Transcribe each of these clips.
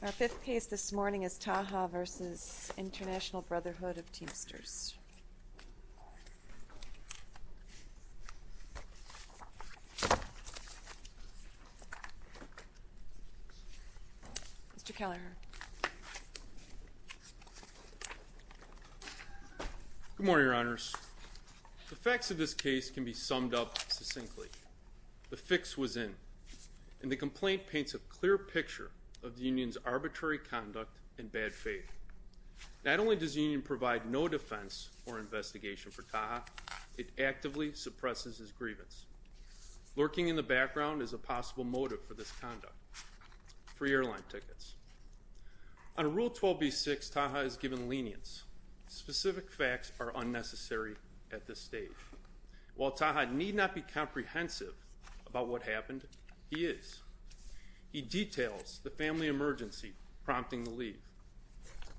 Our fifth piece this morning is Taha v. International Brotherhood of Teamsters. Mr. Keller. Good morning, Your Honors. The facts of this case can be summed up succinctly. The fix was in, and the complaint paints a clear picture of the union's arbitrary conduct and bad faith. Not only does the union provide no defense or investigation for Taha, it actively suppresses his grievance. Lurking in the background is a possible motive for this conduct. Free airline tickets. On Rule 12b-6, Taha is given lenience. Specific facts are unnecessary at this stage. While Taha need not be comprehensive about what happened, he is. He details the family emergency prompting the leave,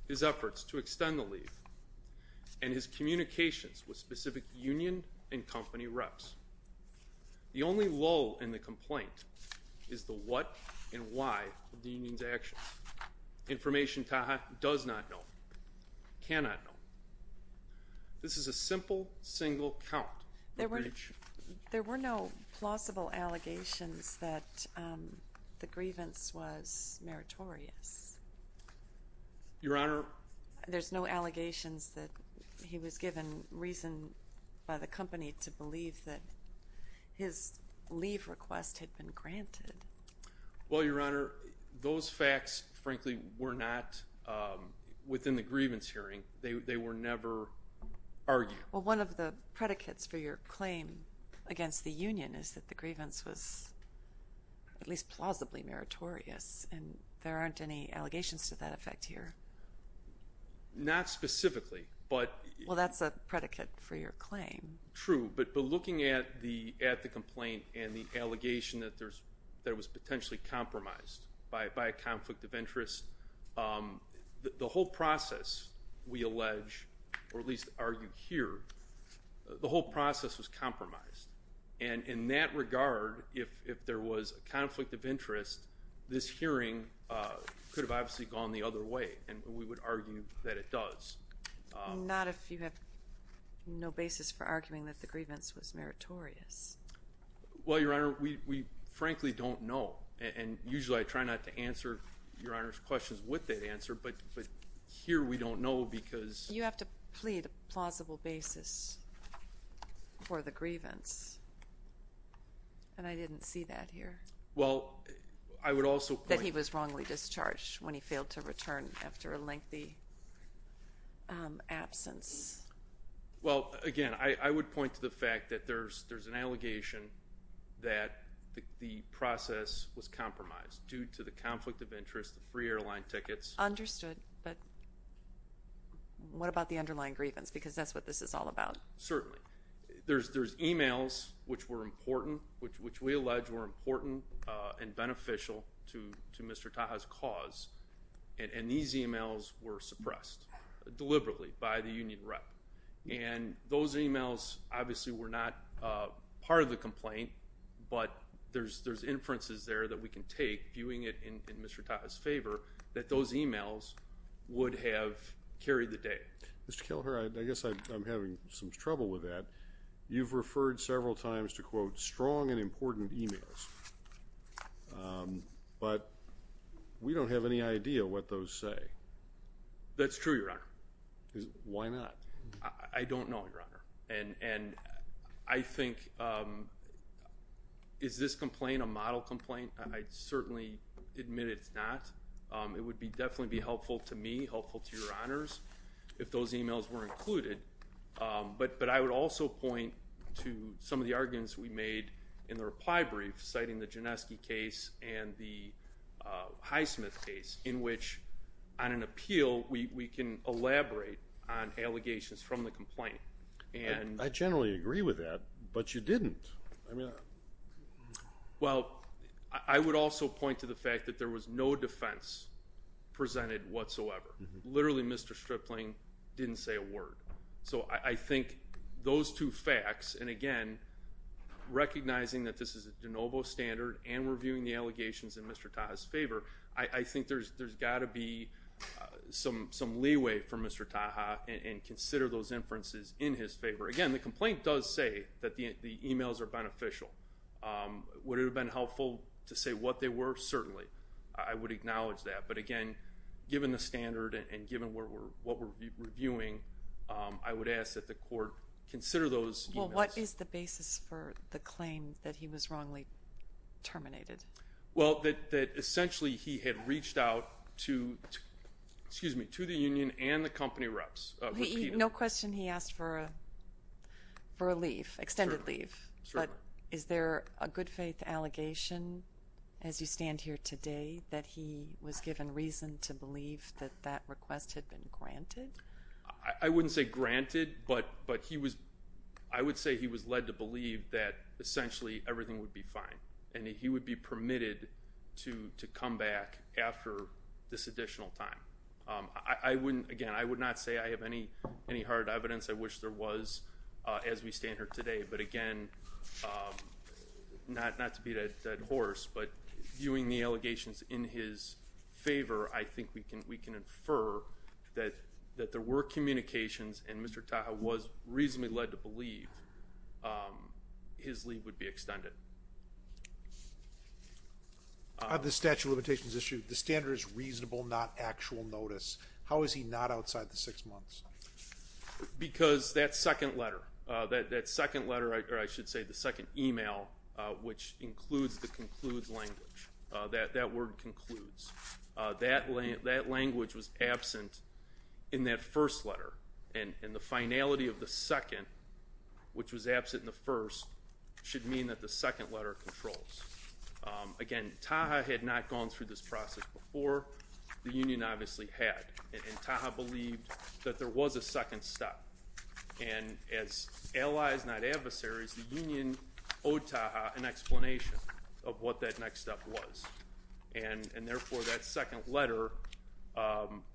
his efforts to extend the leave, and his communications with specific union and company reps. The only lull in the complaint is the what and why of the union's actions. Information Taha does not know, cannot know. This is a simple, single count. There were no plausible allegations that the grievance was meritorious. Your Honor? There's no allegations that he was given reason by the company to believe that his leave request had been granted. Well, Your Honor, those facts, frankly, were not within the grievance hearing. They were never argued. Well, one of the predicates for your claim against the union is that the grievance was at least plausibly meritorious, and there aren't any allegations to that effect here. Not specifically. Well, that's a predicate for your claim. True, but looking at the complaint and the allegation that it was potentially compromised by a conflict of interest, the whole process, we allege, or at least argue here, the whole process was compromised. And in that regard, if there was a conflict of interest, this hearing could have obviously gone the other way, and we would argue that it does. Not if you have no basis for arguing that the grievance was meritorious. Well, Your Honor, we frankly don't know. And usually I try not to answer Your Honor's questions with that answer, but here we don't know because... You have to plead a plausible basis for the grievance, and I didn't see that here. Well, I would also point... That he was wrongly discharged when he failed to return after a lengthy absence. Well, again, I would point to the fact that there's an allegation that the process was compromised due to the conflict of interest, the free airline tickets. Understood, but what about the underlying grievance? Because that's what this is all about. Certainly. There's emails which were important, which we allege were important and beneficial to Mr. Taha's cause, and these emails were suppressed deliberately by the union rep. And those emails obviously were not part of the complaint, but there's inferences there that we can take, viewing it in Mr. Taha's favor, that those emails would have carried the day. Mr. Kelher, I guess I'm having some trouble with that. You've referred several times to, quote, strong and important emails, but we don't have any idea what those say. That's true, Your Honor. Why not? I don't know, Your Honor, and I think, is this complaint a model complaint? I'd certainly admit it's not. It would definitely be helpful to me, helpful to Your Honors, if those emails were included. But I would also point to some of the arguments we made in the reply brief, citing the Gineski case and the Highsmith case, in which on an appeal we can elaborate on allegations from the complaint. I generally agree with that, but you didn't. Well, I would also point to the fact that there was no defense presented whatsoever. Literally, Mr. Stripling didn't say a word. So I think those two facts, and again, recognizing that this is a de novo standard and reviewing the allegations in Mr. Taha's favor, I think there's got to be some leeway from Mr. Taha and consider those inferences in his favor. Again, the complaint does say that the emails are beneficial. Would it have been helpful to say what they were? Certainly. I would acknowledge that. But again, given the standard and given what we're reviewing, I would ask that the court consider those emails. Well, what is the basis for the claim that he was wrongly terminated? Well, that essentially he had reached out to the union and the company reps. No question he asked for a leave, extended leave. Certainly. Is there a good faith allegation as you stand here today that he was given reason to believe that that request had been granted? I wouldn't say granted, but I would say he was led to believe that essentially everything would be fine and that he would be permitted to come back after this additional time. Again, I would not say I have any hard evidence. I wish there was as we stand here today. But, again, not to beat a dead horse, but viewing the allegations in his favor, I think we can infer that there were communications and Mr. Taha was reasonably led to believe his leave would be extended. On the statute of limitations issue, the standard is reasonable, not actual notice. How is he not outside the six months? Because that second letter, that second letter, or I should say the second email, which includes the concludes language, that word concludes, that language was absent in that first letter. And the finality of the second, which was absent in the first, should mean that the second letter controls. Again, Taha had not gone through this process before. The union obviously had. And Taha believed that there was a second step. And as allies, not adversaries, the union owed Taha an explanation of what that next step was. And, therefore, that second letter,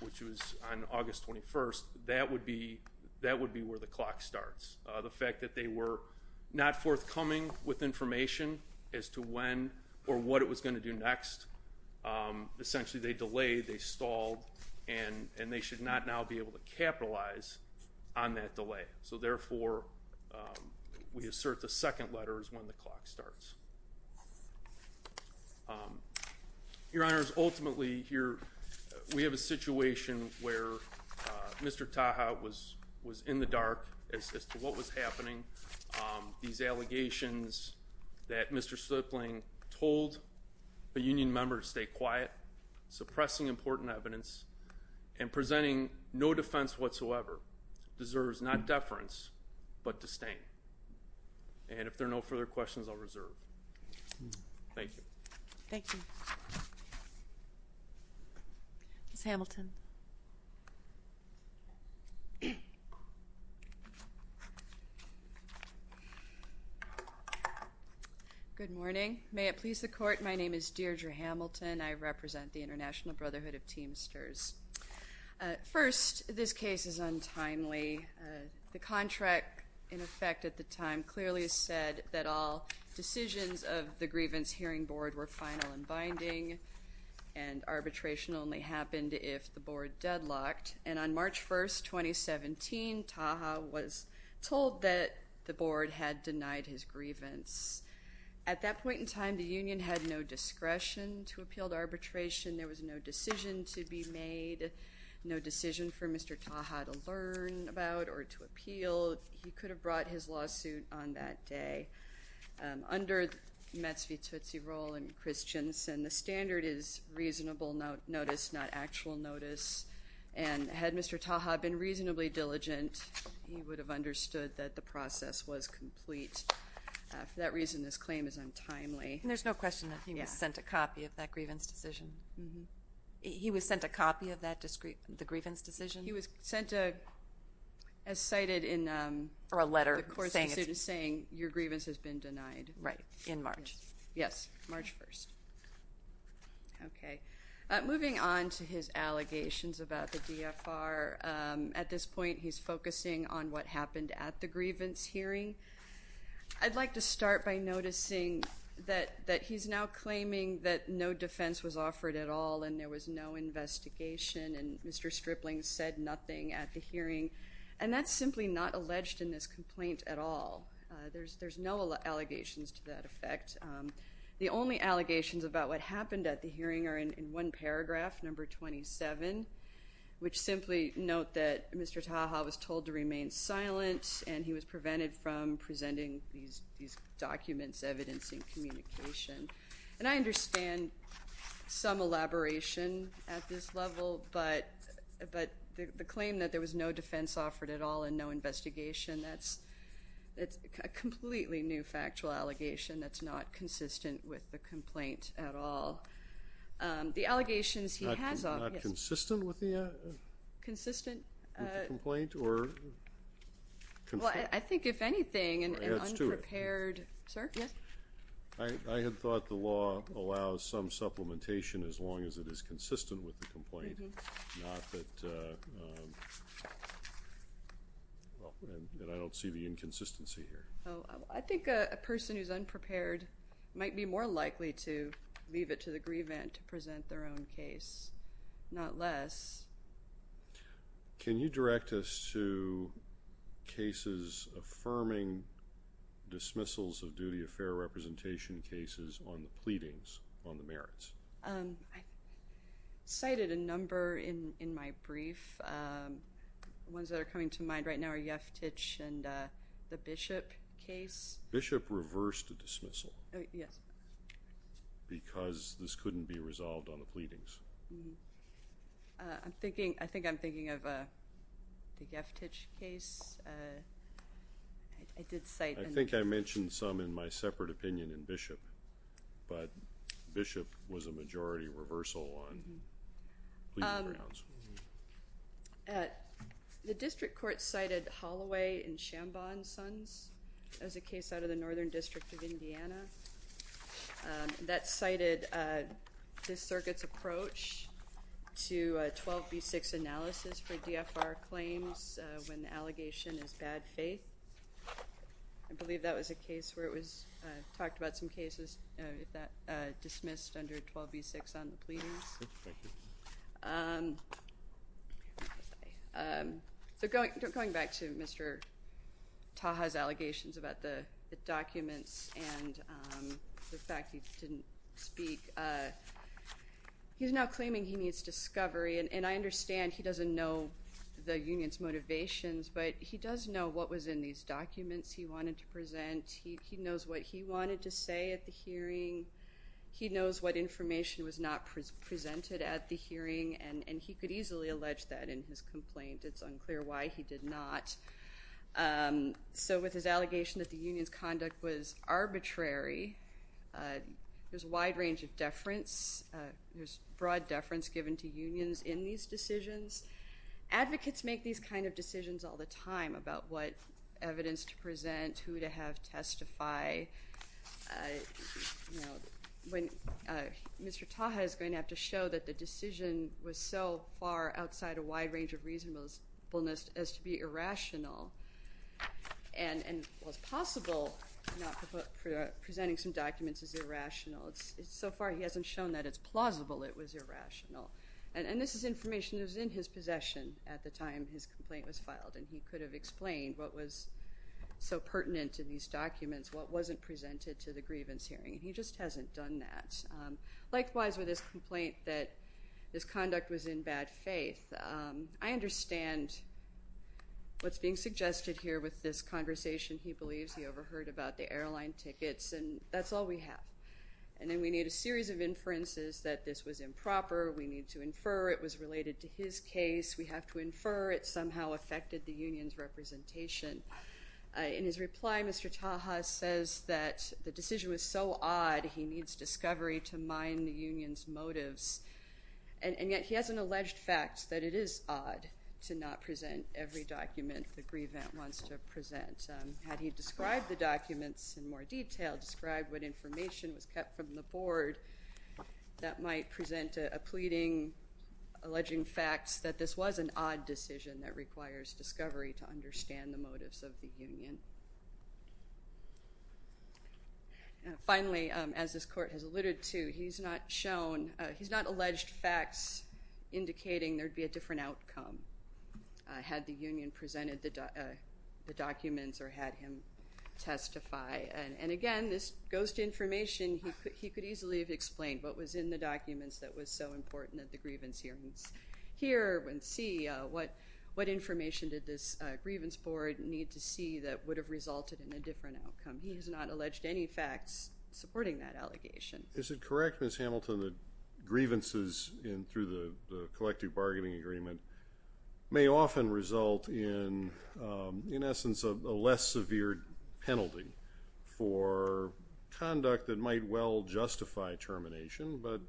which was on August 21st, that would be where the clock starts. The fact that they were not forthcoming with information as to when or what it was going to do next, essentially they delayed, they stalled, and they should not now be able to capitalize on that delay. So, therefore, we assert the second letter is when the clock starts. Your Honors, ultimately here we have a situation where Mr. Taha was in the dark as to what was happening. These allegations that Mr. Slipling told the union members stay quiet, suppressing important evidence, and presenting no defense whatsoever deserves not deference, but disdain. And if there are no further questions, I'll reserve. Thank you. Thank you. Ms. Hamilton. Good morning. May it please the Court, my name is Deirdre Hamilton. I represent the International Brotherhood of Teamsters. First, this case is untimely. The contract, in effect at the time, clearly said that all decisions of the Grievance Hearing Board were final and binding, and arbitration only happened if the board deadlocked. And on March 1, 2017, Taha was told that the board had denied his grievance. At that point in time, the union had no discretion to appeal the arbitration. There was no decision to be made, no decision for Mr. Taha to learn about or to appeal. He could have brought his lawsuit on that day. Under Metz v. Tootsie Roll and Christianson, the standard is reasonable notice, not actual notice. And had Mr. Taha been reasonably diligent, he would have understood that the process was complete. For that reason, this claim is untimely. And there's no question that he was sent a copy of that grievance decision? Mm-hmm. He was sent a copy of the grievance decision? He was sent a, as cited in the course of the suit, saying, your grievance has been denied. Right, in March. Yes, March 1. Okay. Moving on to his allegations about the DFR, at this point he's focusing on what happened at the grievance hearing. I'd like to start by noticing that he's now claiming that no defense was offered at all and there was no investigation, and Mr. Stripling said nothing at the hearing, and that's simply not alleged in this complaint at all. There's no allegations to that effect. The only allegations about what happened at the hearing are in one paragraph, number 27, which simply note that Mr. Taha was told to remain silent and he was prevented from presenting these documents evidencing communication. And I understand some elaboration at this level, but the claim that there was no defense offered at all and no investigation, that's a completely new factual allegation that's not consistent with the complaint at all. The allegations he has offered. Not consistent with the? Consistent. With the complaint or? Well, I think, if anything, an unprepared. Or as to it. Sir, yes? I had thought the law allows some supplementation as long as it is consistent with the complaint, not that I don't see the inconsistency here. I think a person who's unprepared might be more likely to leave it to the grievant to present their own case, not less. Can you direct us to cases affirming dismissals of duty of fair representation cases on the pleadings on the merits? I cited a number in my brief. The ones that are coming to mind right now are Yeftich and the Bishop case. Bishop reversed a dismissal. Yes. Because this couldn't be resolved on the pleadings. I think I'm thinking of the Yeftich case. I did cite. I think I mentioned some in my separate opinion in Bishop. But Bishop was a majority reversal on pleading grounds. The district court cited Holloway and Shambon Sons as a case out of the Northern District of Indiana. That cited this circuit's approach to 12B6 analysis for DFR claims when the allegation is bad faith. I believe that was a case where it was talked about some cases that dismissed under 12B6 on the pleadings. So going back to Mr. Taha's allegations about the documents and the fact he didn't speak, he's now claiming he needs discovery. And I understand he doesn't know the union's motivations, but he does know what was in these documents he wanted to present. He knows what he wanted to say at the hearing. He knows what information was not presented at the hearing, and he could easily allege that in his complaint. It's unclear why he did not. So with his allegation that the union's conduct was arbitrary, there's a wide range of deference. There's broad deference given to unions in these decisions. Advocates make these kind of decisions all the time about what evidence to present, who to have testify. Mr. Taha is going to have to show that the decision was so far outside a wide range of reasonableness as to be irrational. And while it's possible presenting some documents is irrational, so far he hasn't shown that it's plausible it was irrational. And this is information that was in his possession at the time his complaint was filed, and he could have explained what was so pertinent in these documents, what wasn't presented to the grievance hearing. He just hasn't done that. Likewise, with his complaint that his conduct was in bad faith, I understand what's being suggested here with this conversation. He believes he overheard about the airline tickets, and that's all we have. And then we need a series of inferences that this was improper. We need to infer it was related to his case. We have to infer it somehow affected the union's representation. In his reply, Mr. Taha says that the decision was so odd he needs discovery to mine the union's motives. And yet he has an alleged fact that it is odd to not present every document the grievant wants to present. Had he described the documents in more detail, described what information was kept from the board, that might present a pleading, alleging facts that this was an odd decision that requires discovery to understand the motives of the union. Finally, as this court has alluded to, he's not shown, he's not alleged facts indicating there would be a different outcome had the union presented the documents or had him testify. And, again, this goes to information. He could easily have explained what was in the documents that was so important at the grievance hearings here and see what information did this grievance board need to see that would have resulted in a different outcome. He has not alleged any facts supporting that allegation. Is it correct, Ms. Hamilton, that grievances through the collective bargaining agreement may often result in, in essence, a less severe penalty for conduct that might well justify termination, but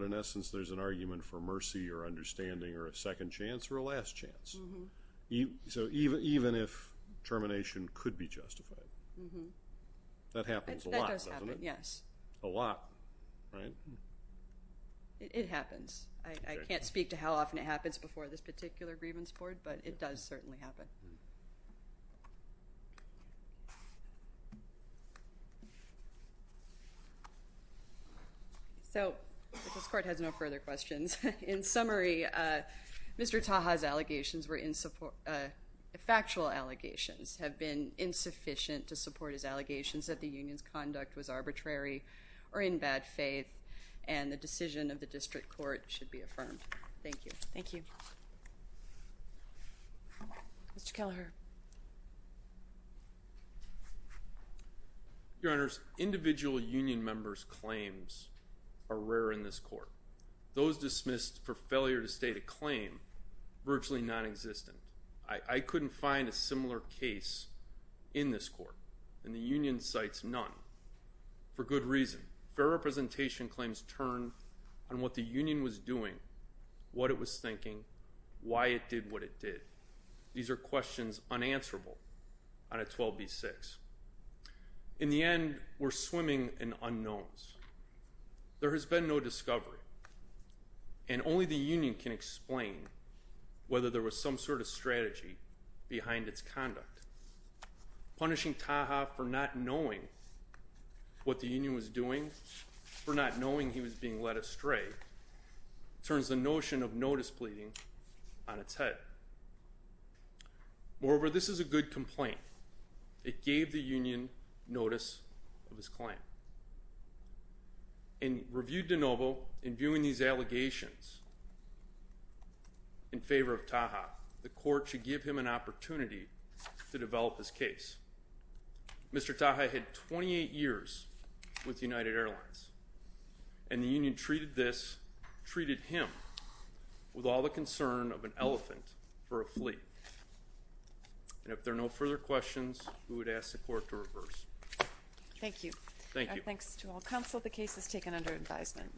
in essence there's an argument for mercy or understanding or a second chance or a last chance? So even if termination could be justified? That happens a lot, doesn't it? That does happen, yes. A lot, right? It happens. I can't speak to how often it happens before this particular grievance board, but it does certainly happen. So this court has no further questions. In summary, Mr. Taha's allegations were in support, factual allegations have been insufficient to support his allegations that the union's conduct was arbitrary or in bad faith, and the decision of the district court should be affirmed. Thank you. Thank you. Mr. Kelleher. Your Honors, individual union members' claims are rare in this court. Those dismissed for failure to state a claim are virtually nonexistent. I couldn't find a similar case in this court, and the union cites none for good reason. Fair representation claims turn on what the union was doing, what it was thinking, why it did what it did. These are questions unanswerable on a 12b-6. In the end, we're swimming in unknowns. There has been no discovery, and only the union can explain whether there was some sort of strategy behind its conduct. Punishing Taha for not knowing what the union was doing, for not knowing he was being led astray, turns the notion of notice pleading on its head. Moreover, this is a good complaint. It gave the union notice of his claim. In reviewing these allegations in favor of Taha, the court should give him an opportunity to develop his case. Mr. Taha had 28 years with United Airlines, and the union treated him with all the concern of an elephant for a flea. And if there are no further questions, we would ask the court to reverse. Thank you. Thanks to all counsel. The case is taken under advisement.